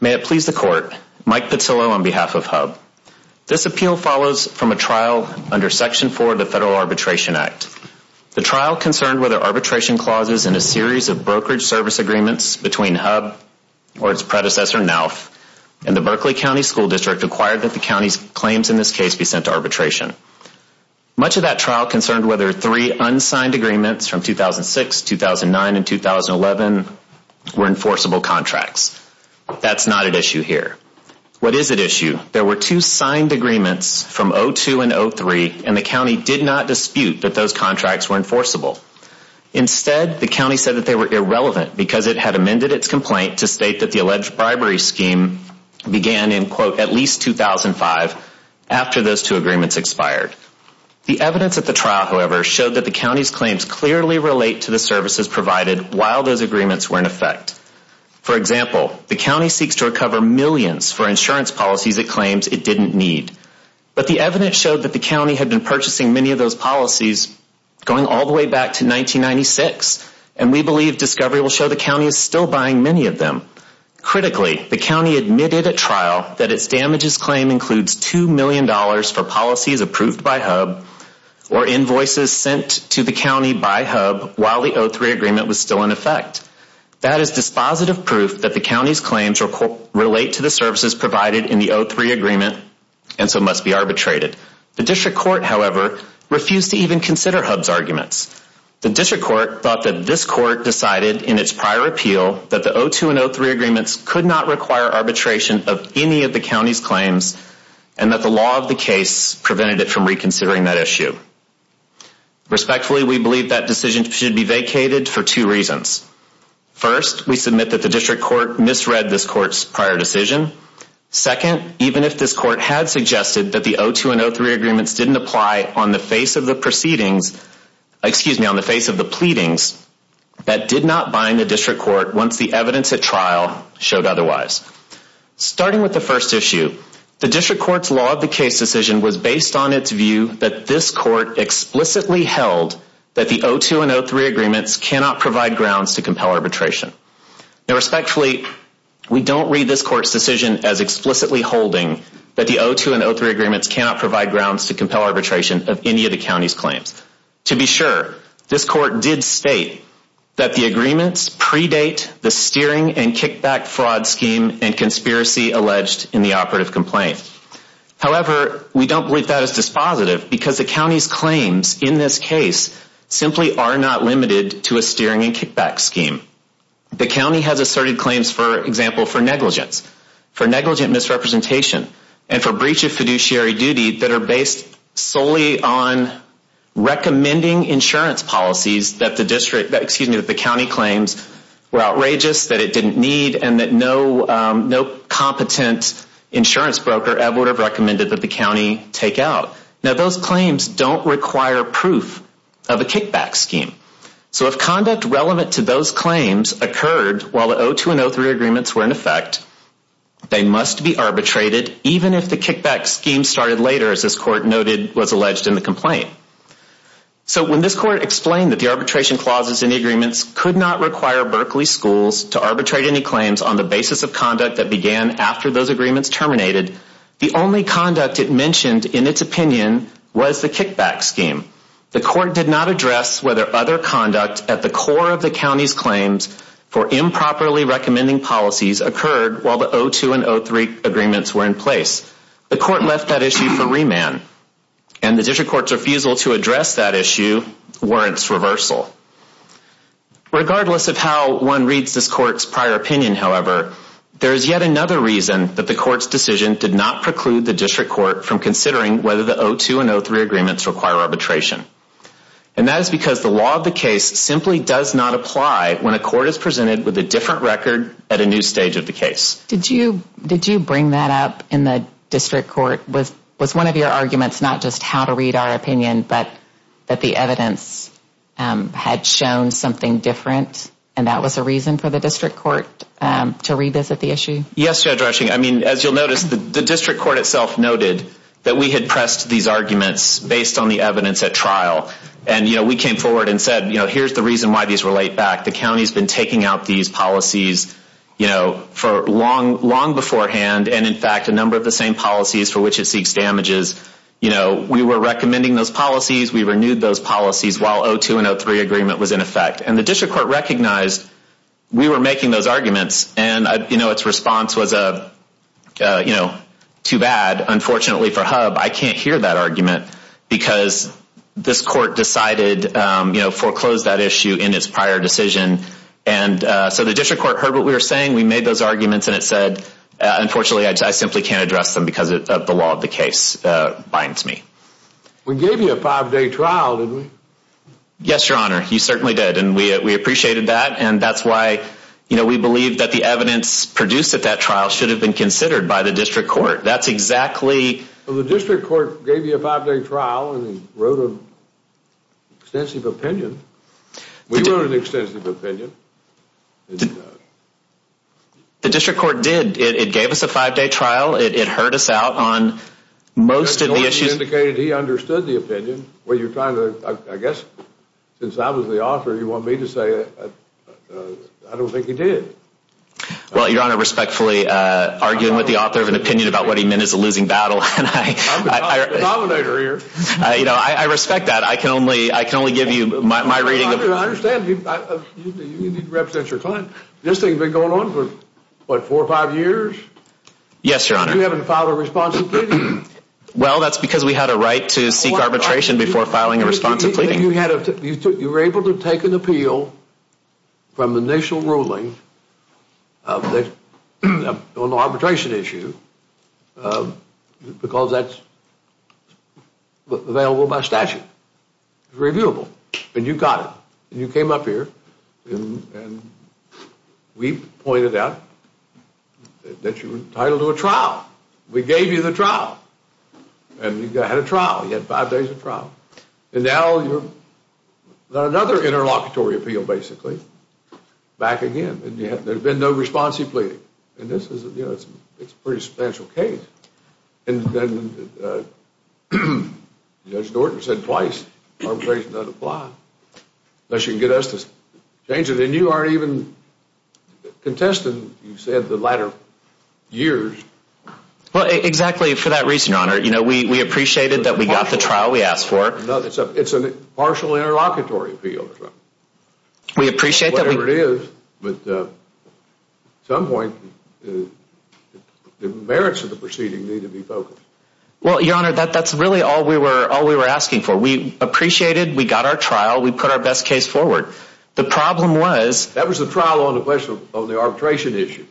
May it please the Court, Mike Petillo on behalf of HUB. This appeal follows from a trial under Section 4 of the Federal Arbitration Act. The trial concerned whether arbitration clauses in a series of brokerage service agreements between HUB or its predecessor, NALF, and the Berkeley County School District required that the county's claims in this case be sent to arbitration. Much of that trial concerned whether three unsigned agreements from 2006, 2009, and 2011 were enforceable contracts. That's not at issue here. What is at issue? There were two signed agreements from 2002 and 2003, and the county did not dispute that those contracts were enforceable. Instead, the county said that they were irrelevant because it had amended its complaint to state that the alleged bribery scheme began in, quote, at least 2005 after those two agreements expired. The evidence at the trial, however, showed that the county's claims clearly relate to the services provided while those agreements were in effect. For example, the county seeks to recover millions for insurance policies it claims it didn't need. But the evidence showed that the county had been purchasing many of those policies going all the way back to 1996, and we believe discovery will show the county is still buying many of them. Critically, the county admitted at trial that its damages claim includes $2 million for policies approved by HUB or invoices sent to the county by HUB while the 03 agreement was still in effect. That is dispositive proof that the county's claims relate to the services provided in the 03 agreement and so must be arbitrated. The district court, however, refused to even consider HUB's arguments. The district court thought that this court decided in its prior appeal that the 02 and 03 agreements could not require arbitration of any of the county's claims and that the law of the case prevented it from reconsidering that issue. Respectfully, we believe that decision should be vacated for two reasons. First, we submit that the district court misread this court's prior decision. Second, even if this court had suggested that the 02 and 03 agreements didn't apply on the face of the proceedings, excuse me, on the face of the pleadings, that did not bind the district court once the evidence at trial showed otherwise. Starting with the first issue, the district court's law of the case decision was based on its view that this court explicitly held that the 02 and 03 agreements cannot provide grounds to compel arbitration. Respectfully, we don't read this court's decision as explicitly holding that the 02 and 03 agreements cannot provide grounds to compel arbitration of any of the county's claims. To be sure, this court did state that the agreements predate the steering and kickback fraud scheme and conspiracy alleged in the operative complaint. However, we don't believe that is dispositive because the county's claims in this case simply are not limited to a steering and kickback scheme. The county has asserted claims, for example, for negligence, for negligent misrepresentation, and for breach of fiduciary duty that are based solely on recommending insurance policies that the county claims were outrageous, that it didn't need, and that no competent insurance broker ever would have recommended that the county take out. Now, those claims don't require proof of a kickback scheme. So if conduct relevant to those claims occurred while the 02 and 03 agreements were in effect, they must be arbitrated even if the kickback scheme started later, as this court noted was alleged in the complaint. So when this court explained that the arbitration clauses in the agreements could not require Berkeley schools to arbitrate any claims on the basis of conduct that began after those agreements terminated, the only conduct it mentioned in its opinion was the kickback scheme. The court did not address whether other conduct at the core of the county's claims for improperly recommending policies occurred while the 02 and 03 agreements were in place. The court left that issue for remand, and the district court's refusal to address that issue warrants reversal. Regardless of how one reads this court's prior opinion, however, there is yet another reason that the court's decision did not preclude the district court from considering whether the 02 and 03 agreements require arbitration. And that is because the law of the case simply does not apply when a court is presented with a different record at a new stage of the case. Did you bring that up in the district court? Was one of your arguments not just how to read our opinion but that the evidence had shown something different and that was a reason for the district court to revisit the issue? Yes, Judge Rushing. As you'll notice, the district court itself noted that we had pressed these arguments based on the evidence at trial. And we came forward and said, here's the reason why these relate back. The county's been taking out these policies long beforehand, and in fact a number of the same policies for which it seeks damages. We were recommending those policies. We renewed those policies while 02 and 03 agreement was in effect. And the district court recognized we were making those arguments. And its response was, you know, too bad. Unfortunately for HUB, I can't hear that argument because this court decided, you know, foreclosed that issue in its prior decision. And so the district court heard what we were saying. We made those arguments and it said, unfortunately, I simply can't address them because the law of the case binds me. We gave you a five-day trial, didn't we? Yes, Your Honor. You certainly did. And we appreciated that. And that's why, you know, we believe that the evidence produced at that trial should have been considered by the district court. That's exactly. Well, the district court gave you a five-day trial and wrote an extensive opinion. We wrote an extensive opinion. The district court did. It gave us a five-day trial. It heard us out on most of the issues. It indicated he understood the opinion. Well, you're trying to, I guess, since I was the author, you want me to say I don't think he did. Well, Your Honor, respectfully, arguing with the author of an opinion about what he meant is a losing battle. I'm the nominator here. You know, I respect that. I can only give you my reading. I understand. You need to represent your client. This thing's been going on for, what, four or five years? Yes, Your Honor. You haven't filed a responsibility. Well, that's because we had a right to seek arbitration before filing a response to pleading. You were able to take an appeal from the initial ruling on the arbitration issue because that's available by statute. It's reviewable. And you got it. And you came up here, and we pointed out that you were entitled to a trial. We gave you the trial. And you had a trial. You had five days of trial. And now you're another interlocutory appeal, basically, back again. And there had been no response to pleading. And this is, you know, it's a pretty substantial case. And then Judge Norton said twice, arbitration doesn't apply unless you can get us to change it. And you aren't even a contestant, you said, the latter years. Well, exactly for that reason, Your Honor. You know, we appreciated that we got the trial we asked for. It's a partial interlocutory appeal. We appreciate that. Whatever it is. But at some point, the merits of the proceeding need to be focused. Well, Your Honor, that's really all we were asking for. We appreciated we got our trial. We put our best case forward. The problem was. That was the trial on the question of the arbitration issue.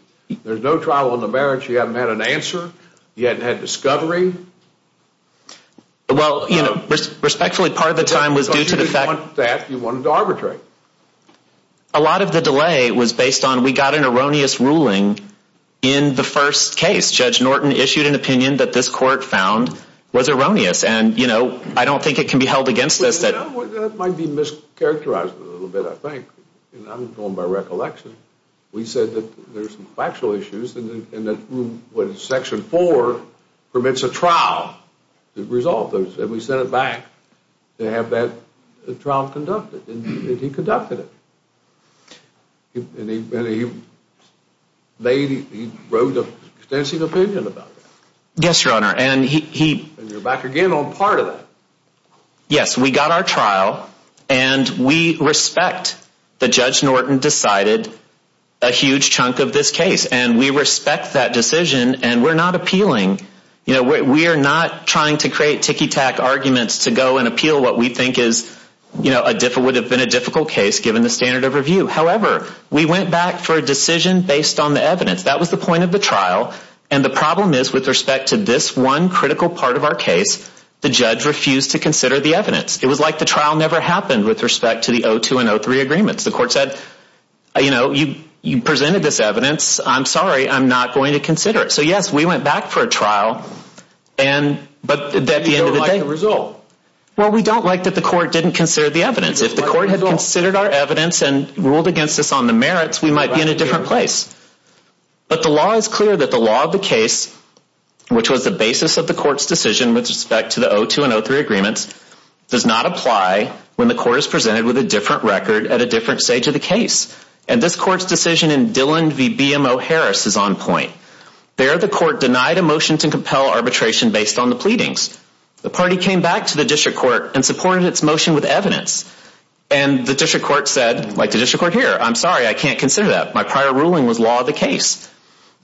There's no trial on the merits. You haven't had an answer. You haven't had discovery. Well, you know, respectfully, part of the time was due to the fact. Because you didn't want that. You wanted to arbitrate. A lot of the delay was based on we got an erroneous ruling in the first case. Judge Norton issued an opinion that this court found was erroneous. And, you know, I don't think it can be held against us. That might be mischaracterized a little bit, I think. I'm going by recollection. We said that there's some factual issues and that Section 4 permits a trial to resolve those. And we sent it back to have that trial conducted. And he conducted it. And he wrote an extensive opinion about that. Yes, Your Honor. And he. And you're back again on part of that. Yes, we got our trial. And we respect that Judge Norton decided a huge chunk of this case. And we respect that decision. And we're not appealing. You know, we are not trying to create ticky-tack arguments to go and appeal what we think is, you know, would have been a difficult case given the standard of review. However, we went back for a decision based on the evidence. That was the point of the trial. And the problem is with respect to this one critical part of our case, the judge refused to consider the evidence. It was like the trial never happened with respect to the O2 and O3 agreements. The court said, you know, you presented this evidence. I'm sorry. I'm not going to consider it. So, yes, we went back for a trial. But at the end of the day. We don't like the result. Well, we don't like that the court didn't consider the evidence. If the court had considered our evidence and ruled against us on the merits, we might be in a different place. But the law is clear that the law of the case, which was the basis of the court's decision with respect to the O2 and O3 agreements, does not apply when the court is presented with a different record at a different stage of the case. And this court's decision in Dillon v. BMO Harris is on point. There the court denied a motion to compel arbitration based on the pleadings. The party came back to the district court and supported its motion with evidence. And the district court said, like the district court here, I'm sorry. I can't consider that. My prior ruling was law of the case.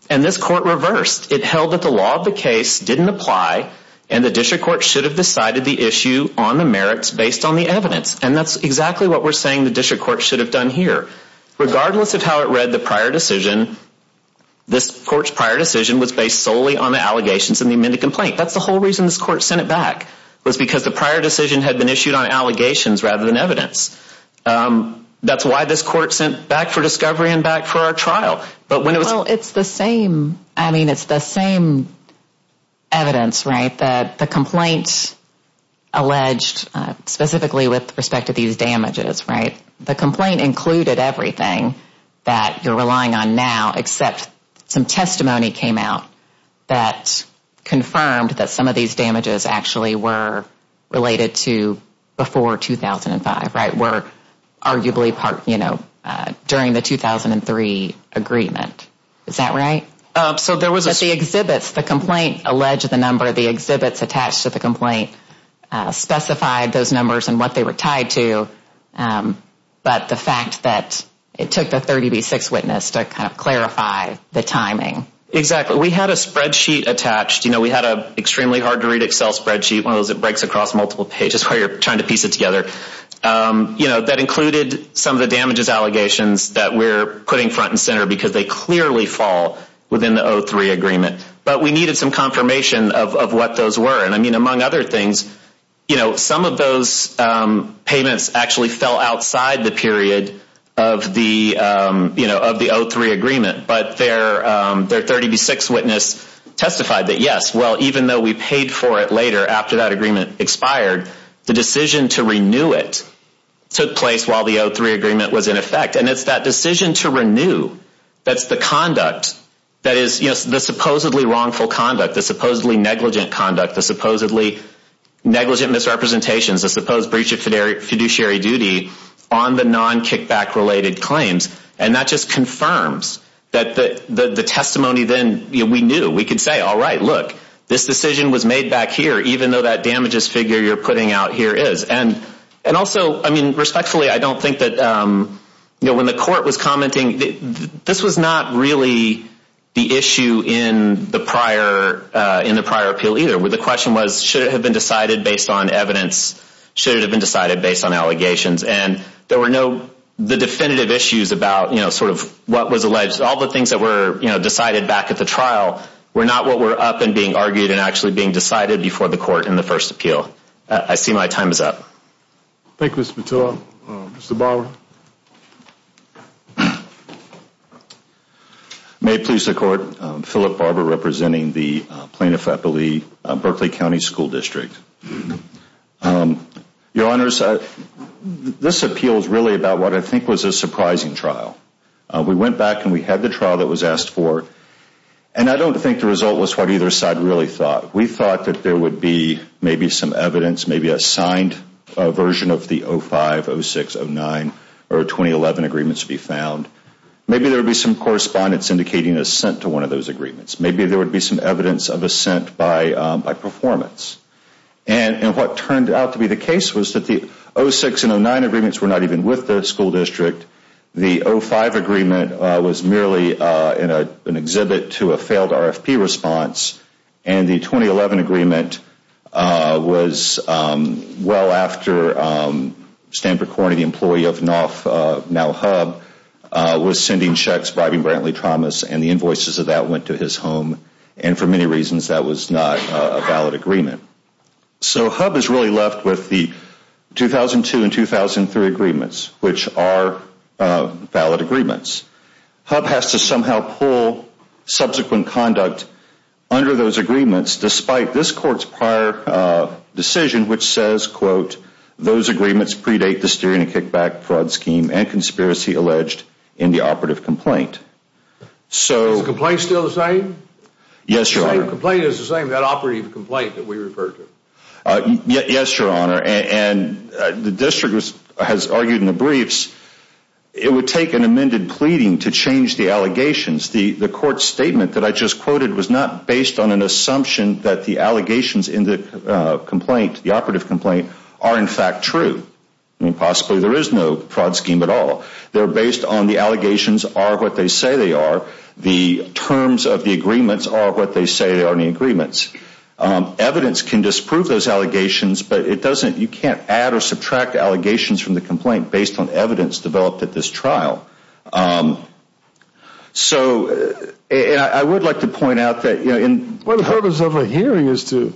And this court reversed. It held that the law of the case didn't apply and the district court should have decided the issue on the merits based on the evidence. And that's exactly what we're saying the district court should have done here. Regardless of how it read the prior decision, this court's prior decision was based solely on the allegations in the amended complaint. That's the whole reason this court sent it back was because the prior decision had been issued on allegations rather than evidence. That's why this court sent back for discovery and back for our trial. Well, it's the same. I mean, it's the same evidence, right, that the complaint alleged specifically with respect to these damages, right? The complaint included everything that you're relying on now except some testimony came out that confirmed that some of these damages actually were related to before 2005, right? And were arguably part, you know, during the 2003 agreement. Is that right? So there was a... But the exhibits, the complaint alleged the number of the exhibits attached to the complaint specified those numbers and what they were tied to. But the fact that it took the 30B6 witness to kind of clarify the timing. Exactly. We had a spreadsheet attached. You know, we had an extremely hard to read Excel spreadsheet, one of those that breaks across multiple pages where you're trying to piece it together. You know, that included some of the damages allegations that we're putting front and center because they clearly fall within the 2003 agreement. But we needed some confirmation of what those were. And I mean, among other things, you know, some of those payments actually fell outside the period of the, you know, of the 2003 agreement. But their 30B6 witness testified that, yes, well, even though we paid for it later after that agreement expired, the decision to renew it took place while the 2003 agreement was in effect. And it's that decision to renew that's the conduct that is, you know, the supposedly wrongful conduct, the supposedly negligent conduct, the supposedly negligent misrepresentations, the supposed breach of fiduciary duty on the non-kickback related claims. And that just confirms that the testimony then, you know, we knew we could say, all right, look, this decision was made back here. Even though that damages figure you're putting out here is. And also, I mean, respectfully, I don't think that, you know, when the court was commenting, this was not really the issue in the prior appeal either. The question was, should it have been decided based on evidence? Should it have been decided based on allegations? And there were no definitive issues about, you know, sort of what was alleged. All the things that were, you know, decided back at the trial were not what were up and being argued and actually being decided before the court in the first appeal. I see my time is up. Thank you, Mr. Mottillo. Mr. Barber. May it please the court. Philip Barber representing the plaintiff at Berkeley County School District. Your Honors, this appeal is really about what I think was a surprising trial. We went back and we had the trial that was asked for, and I don't think the result was what either side really thought. We thought that there would be maybe some evidence, maybe a signed version of the 05, 06, 09, or 2011 agreements to be found. Maybe there would be some correspondence indicating assent to one of those agreements. Maybe there would be some evidence of assent by performance. And what turned out to be the case was that the 06 and 09 agreements were not even with the school district. The 05 agreement was merely an exhibit to a failed RFP response, and the 2011 agreement was well after Stanford Corning, the employee of now HUB, was sending checks bribing Brantley Thomas, and the invoices of that went to his home, and for many reasons that was not a valid agreement. So HUB is really left with the 2002 and 2003 agreements, which are valid agreements. HUB has to somehow pull subsequent conduct under those agreements, despite this court's prior decision which says, quote, those agreements predate the steering and kickback fraud scheme and conspiracy alleged in the operative complaint. Yes, Your Honor. Operative complaint is the same as that operative complaint that we referred to. Yes, Your Honor, and the district has argued in the briefs it would take an amended pleading to change the allegations. The court's statement that I just quoted was not based on an assumption that the allegations in the complaint, the operative complaint, are in fact true. I mean, possibly there is no fraud scheme at all. They're based on the allegations are what they say they are. The terms of the agreements are what they say are in the agreements. Evidence can disprove those allegations, but it doesn't, you can't add or subtract allegations from the complaint based on evidence developed at this trial. So, and I would like to point out that, you know, in Well, the purpose of a hearing is to,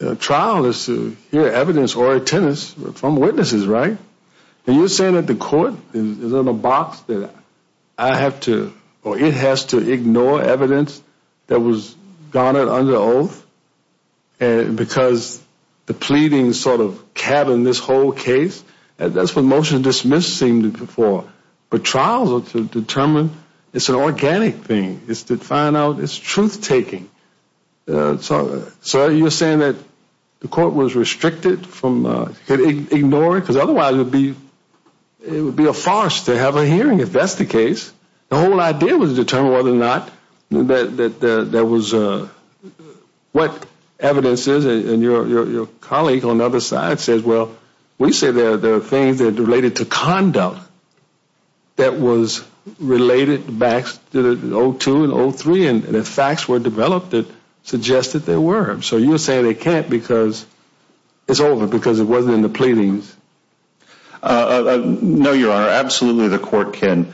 a trial is to hear evidence or attendance from witnesses, right? And you're saying that the court is in a box that I have to, or it has to ignore evidence that was garnered under oath because the pleading sort of cabined this whole case? That's what motion to dismiss seemed to be for. But trials are to determine, it's an organic thing. It's to find out, it's truth-taking. So you're saying that the court was restricted from ignoring, because otherwise it would be, it would be a farce to have a hearing if that's the case. The whole idea was to determine whether or not there was, what evidence is, and your colleague on the other side says, well, we say there are things that are related to conduct that was related back to the 02 and 03, and if facts were developed that suggested they were. So you're saying they can't because it's over, because it wasn't in the pleadings? No, Your Honor, absolutely the court can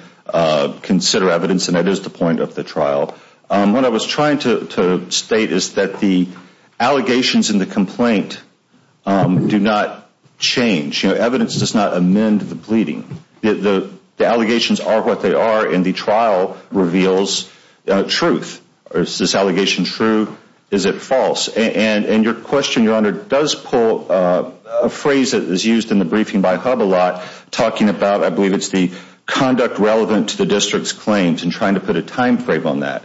consider evidence, and that is the point of the trial. What I was trying to state is that the allegations in the complaint do not change. You know, evidence does not amend the pleading. The allegations are what they are, and the trial reveals truth. Is this allegation true? Is it false? And your question, Your Honor, does pull a phrase that is used in the briefing by HUB a lot, talking about, I believe it's the conduct relevant to the district's claims, and trying to put a time frame on that.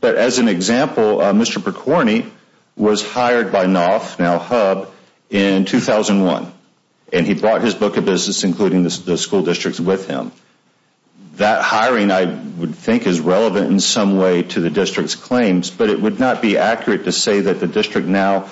But as an example, Mr. Percorni was hired by NOF, now HUB, in 2001, and he brought his book of business, including the school districts, with him. That hiring, I would think, is relevant in some way to the district's claims, but it would not be accurate to say that the district now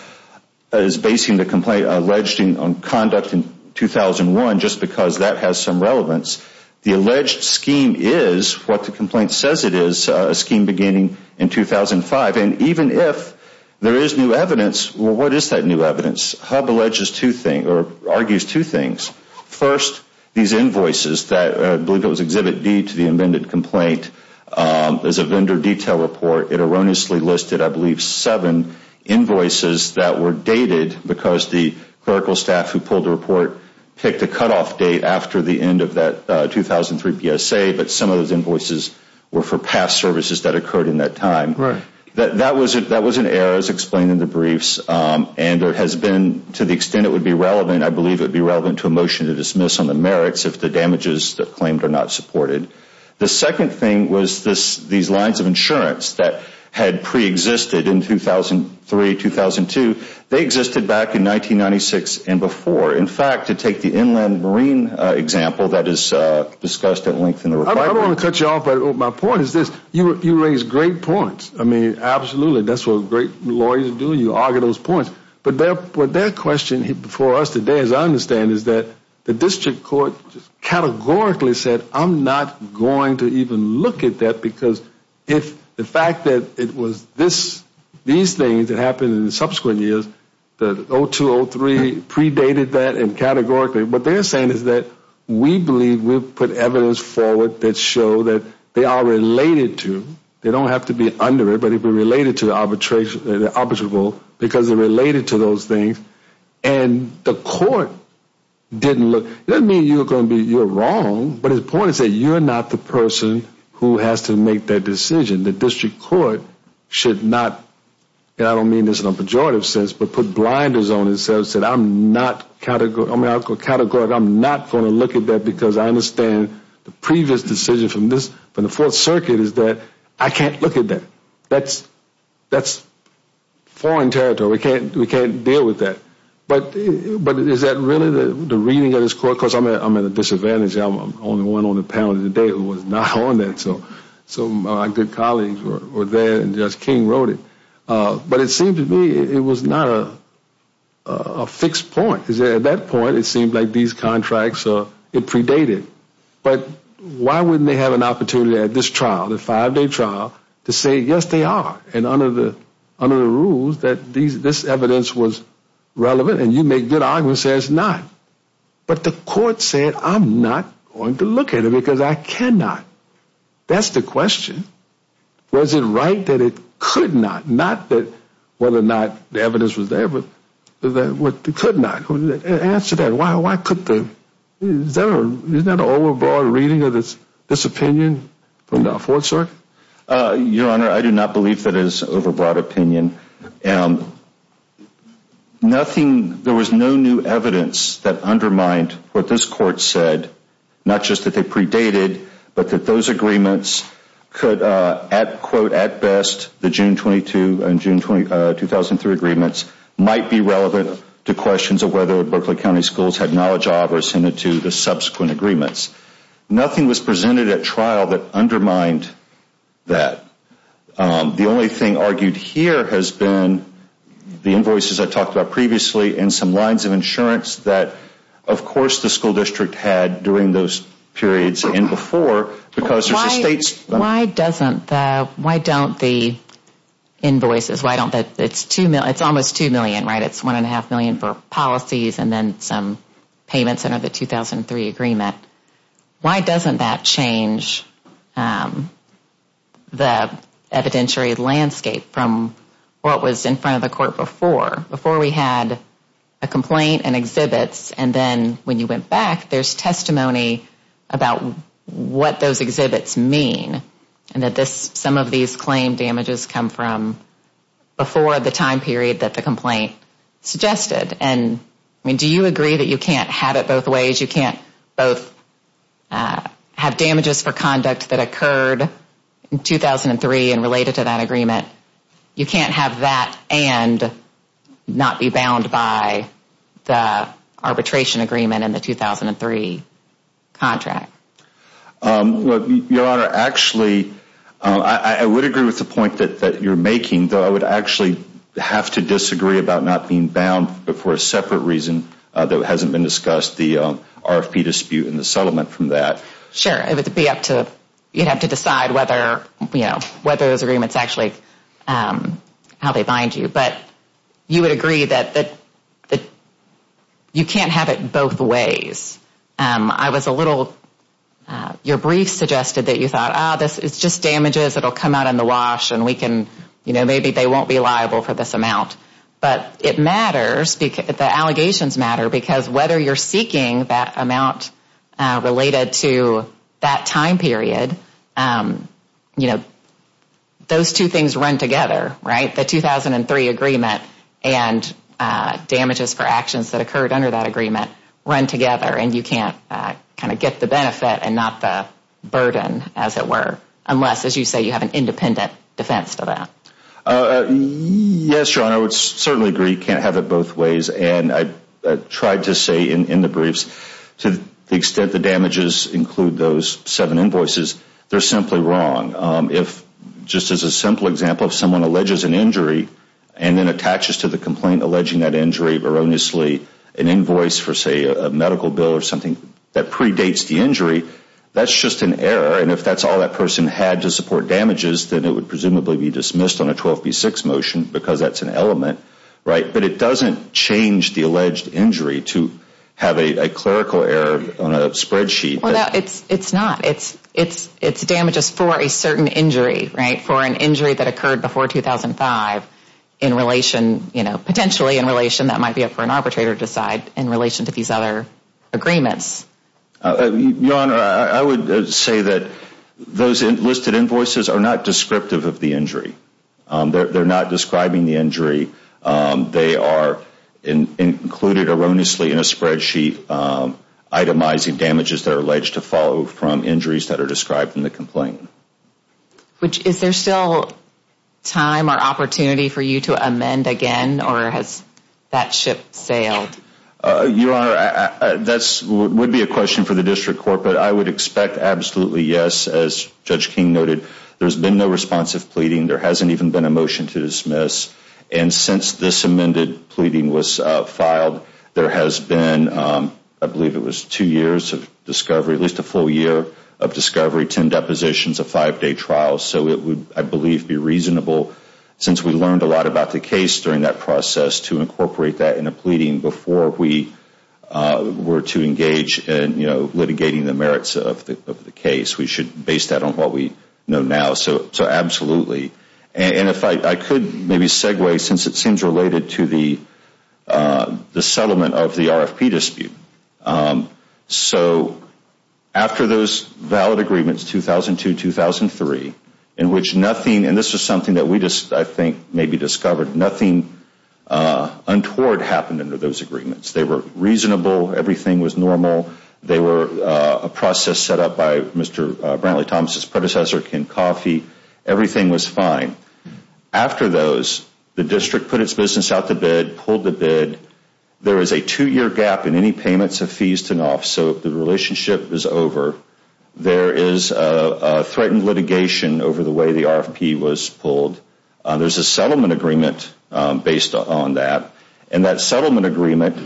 is basing the complaint alleging on conduct in 2001 just because that has some relevance. The alleged scheme is what the complaint says it is, a scheme beginning in 2005, and even if there is new evidence, well, what is that new evidence? HUB alleges two things, or argues two things. First, these invoices, I believe it was Exhibit D to the amended complaint, is a vendor detail report. It erroneously listed, I believe, seven invoices that were dated because the clerical staff who pulled the report picked a cutoff date after the end of that 2003 PSA, but some of those invoices were for past services that occurred in that time. Right. That was in errors explained in the briefs, and there has been, to the extent it would be relevant, I believe it would be relevant to a motion to dismiss on the merits if the damages claimed are not supported. The second thing was these lines of insurance that had preexisted in 2003-2002. They existed back in 1996 and before. In fact, to take the inland marine example that is discussed at length in the report. I don't want to cut you off, but my point is this. You raise great points. I mean, absolutely, that's what great lawyers do. You argue those points. But their question before us today, as I understand it, is that the district court categorically said, I'm not going to even look at that because if the fact that it was these things that happened in the subsequent years, that 2002-2003 predated that and categorically, what they're saying is that we believe we've put evidence forward that show that they are related to, they don't have to be under it, but they've been related to arbitration, because they're related to those things. And the court didn't look. It doesn't mean you're wrong, but the point is that you're not the person who has to make that decision. The district court should not, and I don't mean this in a pejorative sense, but put blinders on and say, I'm not going to look at that because I understand the previous decision from the Fourth Circuit is that I can't look at that. That's foreign territory. We can't deal with that. But is that really the reading of this court? Because I'm at a disadvantage. I'm the only one on the panel today who was not on that. So my good colleagues were there, and Judge King wrote it. But it seemed to me it was not a fixed point. At that point, it seemed like these contracts, it predated. But why wouldn't they have an opportunity at this trial, the five-day trial, to say, yes, they are, and under the rules that this evidence was relevant, and you make good arguments and say it's not. But the court said, I'm not going to look at it because I cannot. That's the question. Was it right that it could not, not that whether or not the evidence was there, but that it could not? Answer that. Isn't that an overbroad reading of this opinion from the Fourth Circuit? Your Honor, I do not believe that it is an overbroad opinion. There was no new evidence that undermined what this court said, not just that they predated, but that those agreements could, quote, at best, the June 22 and June 2003 agreements, might be relevant to questions of whether Berkeley County Schools had knowledge of or assented to the subsequent agreements. Nothing was presented at trial that undermined that. The only thing argued here has been the invoices I talked about previously and some lines of insurance that, of course, the school district had during those periods and before. Why don't the invoices, it's almost $2 million, right? It's $1.5 million for policies and then some payments under the 2003 agreement. Why doesn't that change the evidentiary landscape from what was in front of the court before? Before we had a complaint and exhibits and then when you went back, there's testimony about what those exhibits mean and that some of these claim damages come from before the time period that the complaint suggested. And, I mean, do you agree that you can't have it both ways? You can't both have damages for conduct that occurred in 2003 and related to that agreement. You can't have that and not be bound by the arbitration agreement in the 2003 contract. Your Honor, actually, I would agree with the point that you're making, though I would actually have to disagree about not being bound for a separate reason that hasn't been discussed, the RFP dispute and the settlement from that. Sure, it would be up to, you'd have to decide whether, you know, whether those agreements actually, how they bind you. But you would agree that you can't have it both ways. I was a little, your brief suggested that you thought, ah, this is just damages that will come out in the wash and we can, you know, maybe they won't be liable for this amount. But it matters, the allegations matter, because whether you're seeking that amount related to that time period, you know, those two things run together, right? The 2003 agreement and damages for actions that occurred under that agreement run together and you can't kind of get the benefit and not the burden, as it were, unless, as you say, you have an independent defense to that. Yes, your Honor, I would certainly agree you can't have it both ways. And I tried to say in the briefs to the extent the damages include those seven invoices, they're simply wrong. If, just as a simple example, if someone alleges an injury and then attaches to the complaint alleging that injury erroneously an invoice for, say, a medical bill or something that predates the injury, that's just an error. And if that's all that person had to support damages, then it would presumably be dismissed on a 12B6 motion because that's an element, right? But it doesn't change the alleged injury to have a clerical error on a spreadsheet. Well, no, it's not. It's damages for a certain injury, right, for an injury that occurred before 2005 in relation, you know, potentially in relation that might be up for an arbitrator to decide in relation to these other agreements. Your Honor, I would say that those listed invoices are not descriptive of the injury. They're not describing the injury. They are included erroneously in a spreadsheet itemizing damages that are alleged to follow from injuries that are described in the complaint. Is there still time or opportunity for you to amend again, or has that ship sailed? Your Honor, that would be a question for the district court, but I would expect absolutely yes. As Judge King noted, there's been no responsive pleading. There hasn't even been a motion to dismiss. And since this amended pleading was filed, there has been, I believe it was two years of discovery, at least a full year of discovery, 10 depositions, a five-day trial. So it would, I believe, be reasonable, since we learned a lot about the case during that process, to incorporate that in a pleading before we were to engage in, you know, litigating the merits of the case. We should base that on what we know now. So absolutely. And if I could maybe segue since it seems related to the settlement of the RFP dispute. So after those valid agreements, 2002-2003, in which nothing, and this is something that we just, I think, maybe discovered, nothing untoward happened under those agreements. They were reasonable. Everything was normal. They were a process set up by Mr. Brantley Thomas's predecessor, Ken Coffey. Everything was fine. After those, the district put its business out to bid, pulled the bid. There is a two-year gap in any payments of fees to NOF. So the relationship is over. There is a threatened litigation over the way the RFP was pulled. There is a settlement agreement based on that. And that settlement agreement,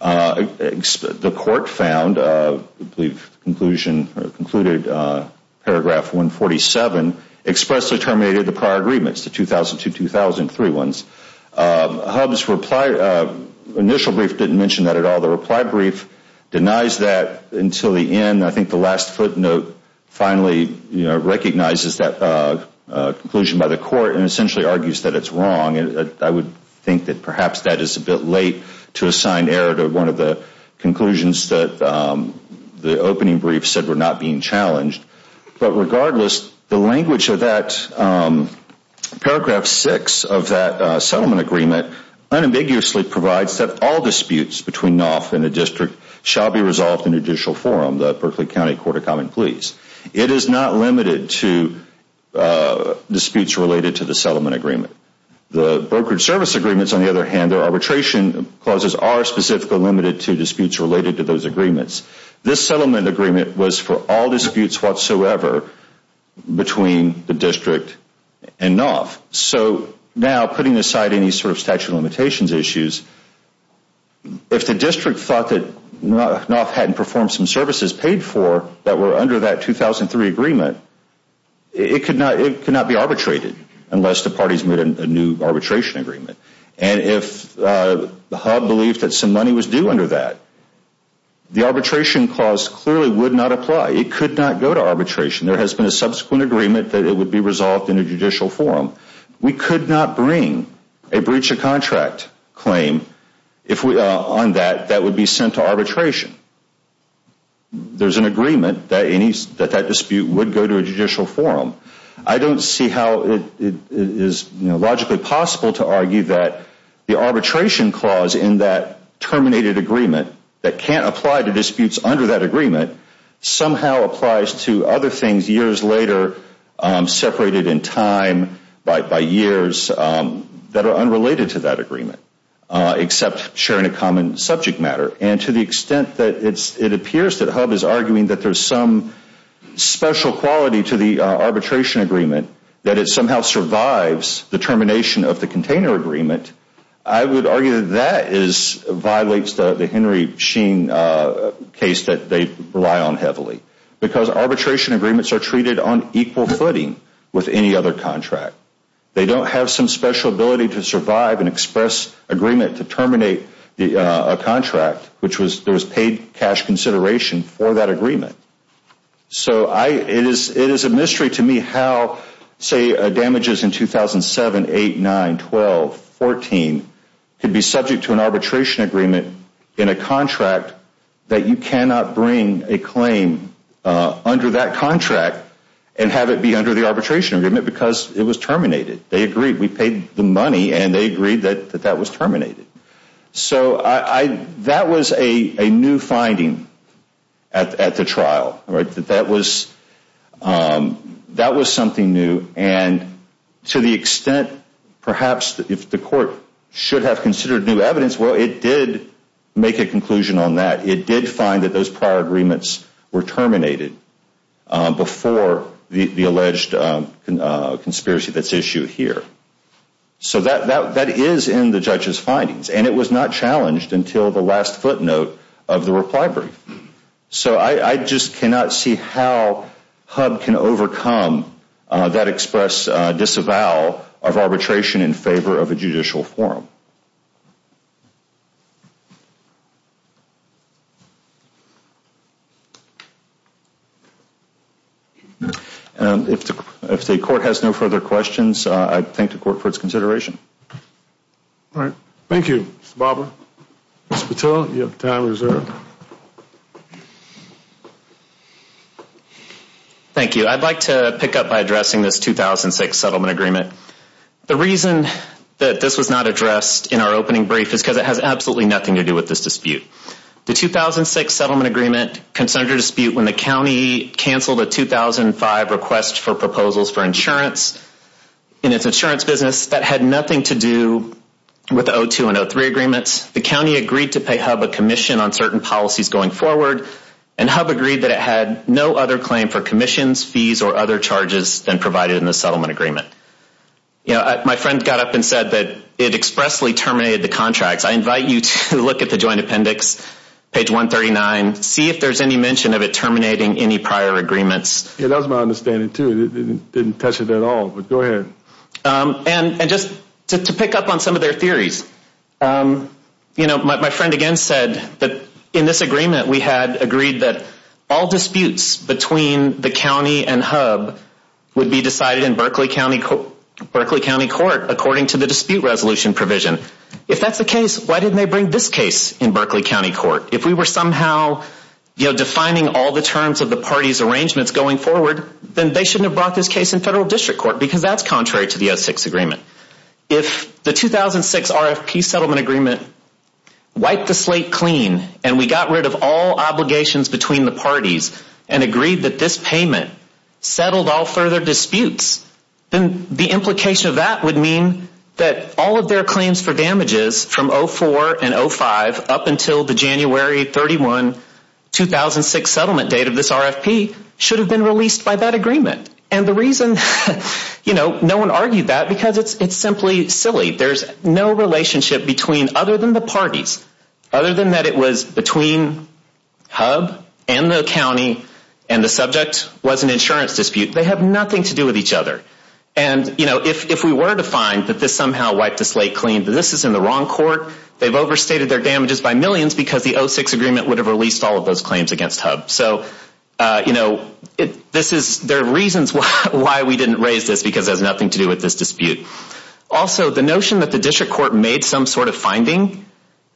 the court found, I believe, concluded paragraph 147, expressly terminated the prior agreements, the 2002-2003 ones. HUB's initial brief didn't mention that at all. The reply brief denies that until the end. I think the last footnote finally recognizes that conclusion by the court and essentially argues that it's wrong. I would think that perhaps that is a bit late to assign error to one of the conclusions that the opening brief said were not being challenged. But regardless, the language of that paragraph 6 of that settlement agreement unambiguously provides that all disputes between NOF and the district shall be resolved in a judicial forum, the Berkeley County Court of Common Pleas. It is not limited to disputes related to the settlement agreement. The brokerage service agreements, on the other hand, their arbitration clauses are specifically limited to disputes related to those agreements. This settlement agreement was for all disputes whatsoever between the district and NOF. So now putting aside any sort of statute of limitations issues, if the district thought that NOF hadn't performed some services paid for that were under that 2003 agreement, it could not be arbitrated unless the parties made a new arbitration agreement. And if the HUB believed that some money was due under that, the arbitration clause clearly would not apply. It could not go to arbitration. There has been a subsequent agreement that it would be resolved in a judicial forum. We could not bring a breach of contract claim on that that would be sent to arbitration. There's an agreement that that dispute would go to a judicial forum. I don't see how it is logically possible to argue that the arbitration clause in that terminated agreement that can't apply to disputes under that agreement somehow applies to other things years later separated in time by years that are unrelated to that agreement except sharing a common subject matter. And to the extent that it appears that HUB is arguing that there's some special quality to the arbitration agreement, that it somehow survives the termination of the container agreement, I would argue that that violates the Henry Sheen case that they rely on heavily because arbitration agreements are treated on equal footing with any other contract. They don't have some special ability to survive an express agreement to terminate a contract, which there was paid cash consideration for that agreement. So it is a mystery to me how, say, damages in 2007, 8, 9, 12, 14 could be subject to an arbitration agreement in a contract that you cannot bring a claim under that contract and have it be under the arbitration agreement because it was terminated. They agreed. We paid the money and they agreed that that was terminated. So that was a new finding at the trial. That was something new. And to the extent perhaps if the court should have considered new evidence, well, it did make a conclusion on that. It did find that those prior agreements were terminated before the alleged conspiracy that's issued here. So that is in the judge's findings. And it was not challenged until the last footnote of the reply brief. So I just cannot see how HUB can overcome that express disavowal of arbitration in favor of a judicial forum. If the court has no further questions, I'd thank the court for its consideration. All right. Thank you, Mr. Bobber. Mr. Patil, you have time reserved. Thank you. I'd like to pick up by addressing this 2006 settlement agreement. It has absolutely nothing to do with this dispute. The 2006 settlement agreement concerned a dispute when the county canceled a 2005 request for proposals for insurance. In its insurance business, that had nothing to do with the 02 and 03 agreements. The county agreed to pay HUB a commission on certain policies going forward. And HUB agreed that it had no other claim for commissions, fees, or other charges than provided in the settlement agreement. My friend got up and said that it expressly terminated the contracts. I invite you to look at the joint appendix, page 139. See if there's any mention of it terminating any prior agreements. Yeah, that was my understanding, too. It didn't touch it at all. But go ahead. And just to pick up on some of their theories, my friend again said that in this agreement, we had agreed that all disputes between the county and HUB would be decided in Berkeley County Court according to the dispute resolution provision. If that's the case, why didn't they bring this case in Berkeley County Court? If we were somehow defining all the terms of the parties' arrangements going forward, then they shouldn't have brought this case in federal district court because that's contrary to the 06 agreement. If the 2006 RFP settlement agreement wiped the slate clean and we got rid of all obligations between the parties and agreed that this payment settled all further disputes, then the implication of that would mean that all of their claims for damages from 04 and 05 up until the January 31, 2006 settlement date of this RFP No one argued that because it's simply silly. There's no relationship between other than the parties, other than that it was between HUB and the county and the subject was an insurance dispute. They have nothing to do with each other. And if we were to find that this somehow wiped the slate clean, this is in the wrong court. They've overstated their damages by millions because the 06 agreement would have released all of those claims against HUB. There are reasons why we didn't raise this because it has nothing to do with this dispute. Also, the notion that the district court made some sort of finding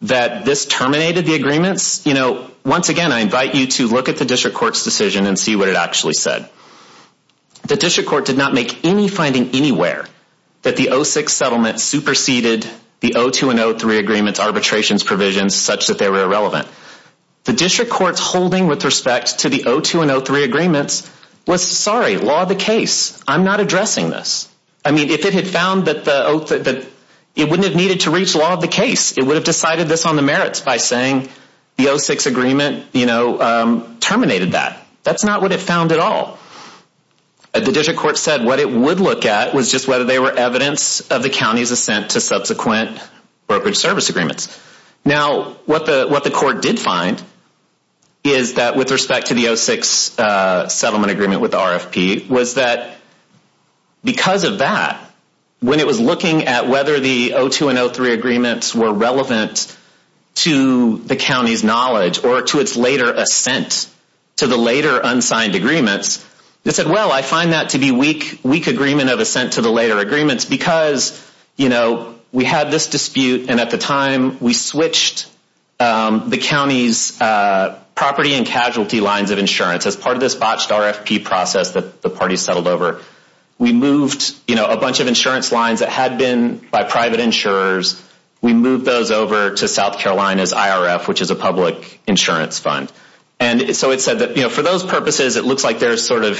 that this terminated the agreements, once again, I invite you to look at the district court's decision and see what it actually said. The district court did not make any finding anywhere that the 06 settlement superseded the 02 and 03 agreement's arbitrations provisions such that they were irrelevant. The district court's holding with respect to the 02 and 03 agreements was, sorry, law of the case. I'm not addressing this. I mean, if it had found that it wouldn't have needed to reach law of the case, it would have decided this on the merits by saying the 06 agreement terminated that. That's not what it found at all. The district court said what it would look at was just whether they were evidence of the county's assent to subsequent brokerage service agreements. Now, what the court did find is that with respect to the 06 settlement agreement with RFP was that because of that, when it was looking at whether the 02 and 03 agreements were relevant to the county's knowledge or to its later assent to the later unsigned agreements, it said, well, I find that to be weak agreement of assent to the later agreements because we had this dispute and at the time we switched the county's property and casualty lines of insurance. As part of this botched RFP process that the party settled over, we moved a bunch of insurance lines that had been by private insurers. We moved those over to South Carolina's IRF, which is a public insurance fund. And so it said that for those purposes, it looks like there's a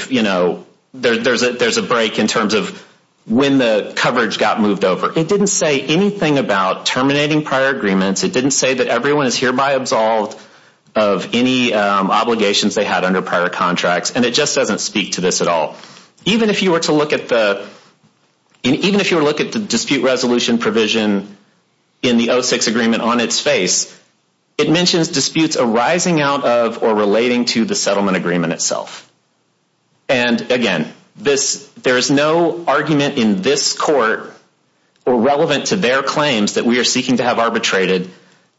break in terms of when the coverage got moved over. It didn't say anything about terminating prior agreements. It didn't say that everyone is hereby absolved of any obligations they had under prior contracts. And it just doesn't speak to this at all. Even if you were to look at the dispute resolution provision in the 06 agreement on its face, it mentions disputes arising out of or relating to the settlement agreement itself. And again, there is no argument in this court or relevant to their claims that we are seeking to have arbitrated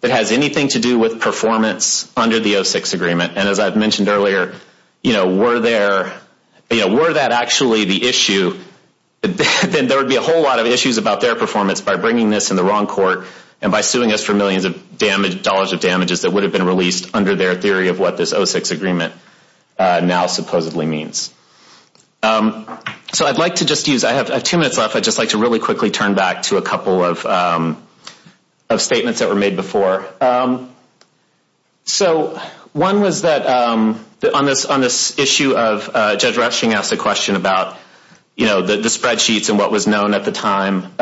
that has anything to do with performance under the 06 agreement. And as I mentioned earlier, were that actually the issue, then there would be a whole lot of issues about their performance by bringing this in the wrong court and by suing us for millions of dollars of damages that would have been released under their theory of what this 06 agreement now supposedly means. So I'd like to just use, I have two minutes left, I'd just like to really quickly turn back to a couple of statements that were made before. So one was that on this issue of, Judge Rushing asked a question about the spreadsheets and what was known at the time.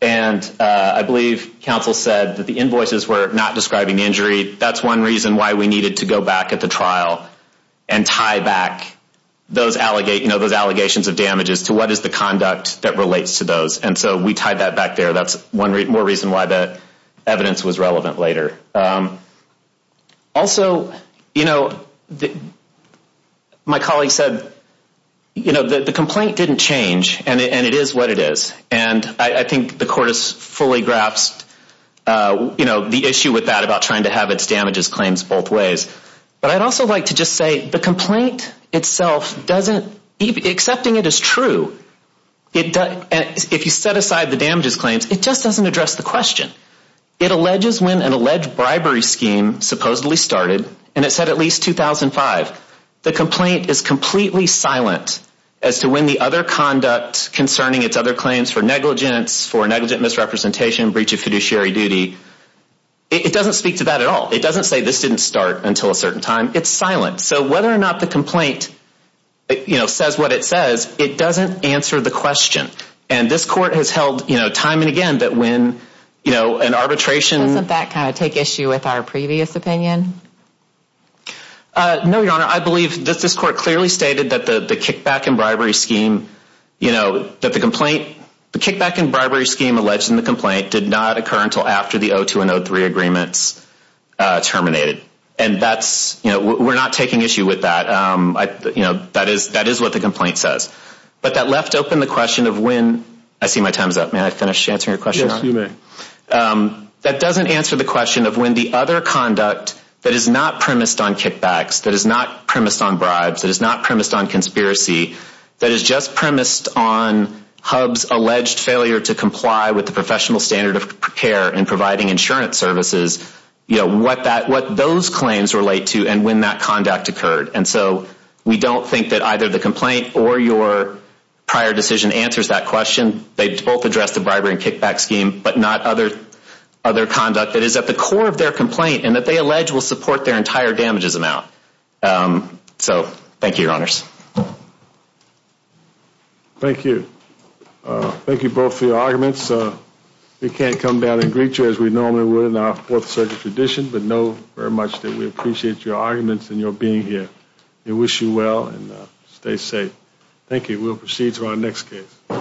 And I believe counsel said that the invoices were not describing the injury. That's one reason why we needed to go back at the trial and tie back those allegations of damages to what is the conduct that relates to those. And so we tied that back there. That's one more reason why that evidence was relevant later. Also, you know, my colleague said, you know, the complaint didn't change and it is what it is. And I think the court has fully grasped, you know, the issue with that about trying to have its damages claims both ways. But I'd also like to just say the complaint itself doesn't, accepting it is true. If you set aside the damages claims, it just doesn't address the question. It alleges when an alleged bribery scheme supposedly started, and it said at least 2005. The complaint is completely silent as to when the other conduct concerning its other claims for negligence, for negligent misrepresentation, breach of fiduciary duty. It doesn't speak to that at all. It doesn't say this didn't start until a certain time. It's silent. So whether or not the complaint, you know, says what it says, it doesn't answer the question. And this court has held, you know, time and again that when, you know, an arbitration. Doesn't that kind of take issue with our previous opinion? No, Your Honor. I believe that this court clearly stated that the kickback and bribery scheme, you know, that the complaint, the kickback and bribery scheme alleged in the complaint did not occur until after the 02 and 03 agreements terminated. And that's, you know, we're not taking issue with that. You know, that is what the complaint says. But that left open the question of when, I see my time is up. May I finish answering your question? Yes, you may. That doesn't answer the question of when the other conduct that is not premised on kickbacks, that is not premised on bribes, that is not premised on conspiracy, that is just premised on HUB's alleged failure to comply with the professional standard of care and providing insurance services, you know, what those claims relate to and when that conduct occurred. And so we don't think that either the complaint or your prior decision answers that question. They both address the bribery and kickback scheme, but not other conduct that is at the core of their complaint and that they allege will support their entire damages amount. So thank you, Your Honors. Thank you. Thank you both for your arguments. We can't come down and greet you as we normally would in our Fourth Circuit tradition, but know very much that we appreciate your arguments and your being here. We wish you well and stay safe. Thank you. We'll proceed to our next case.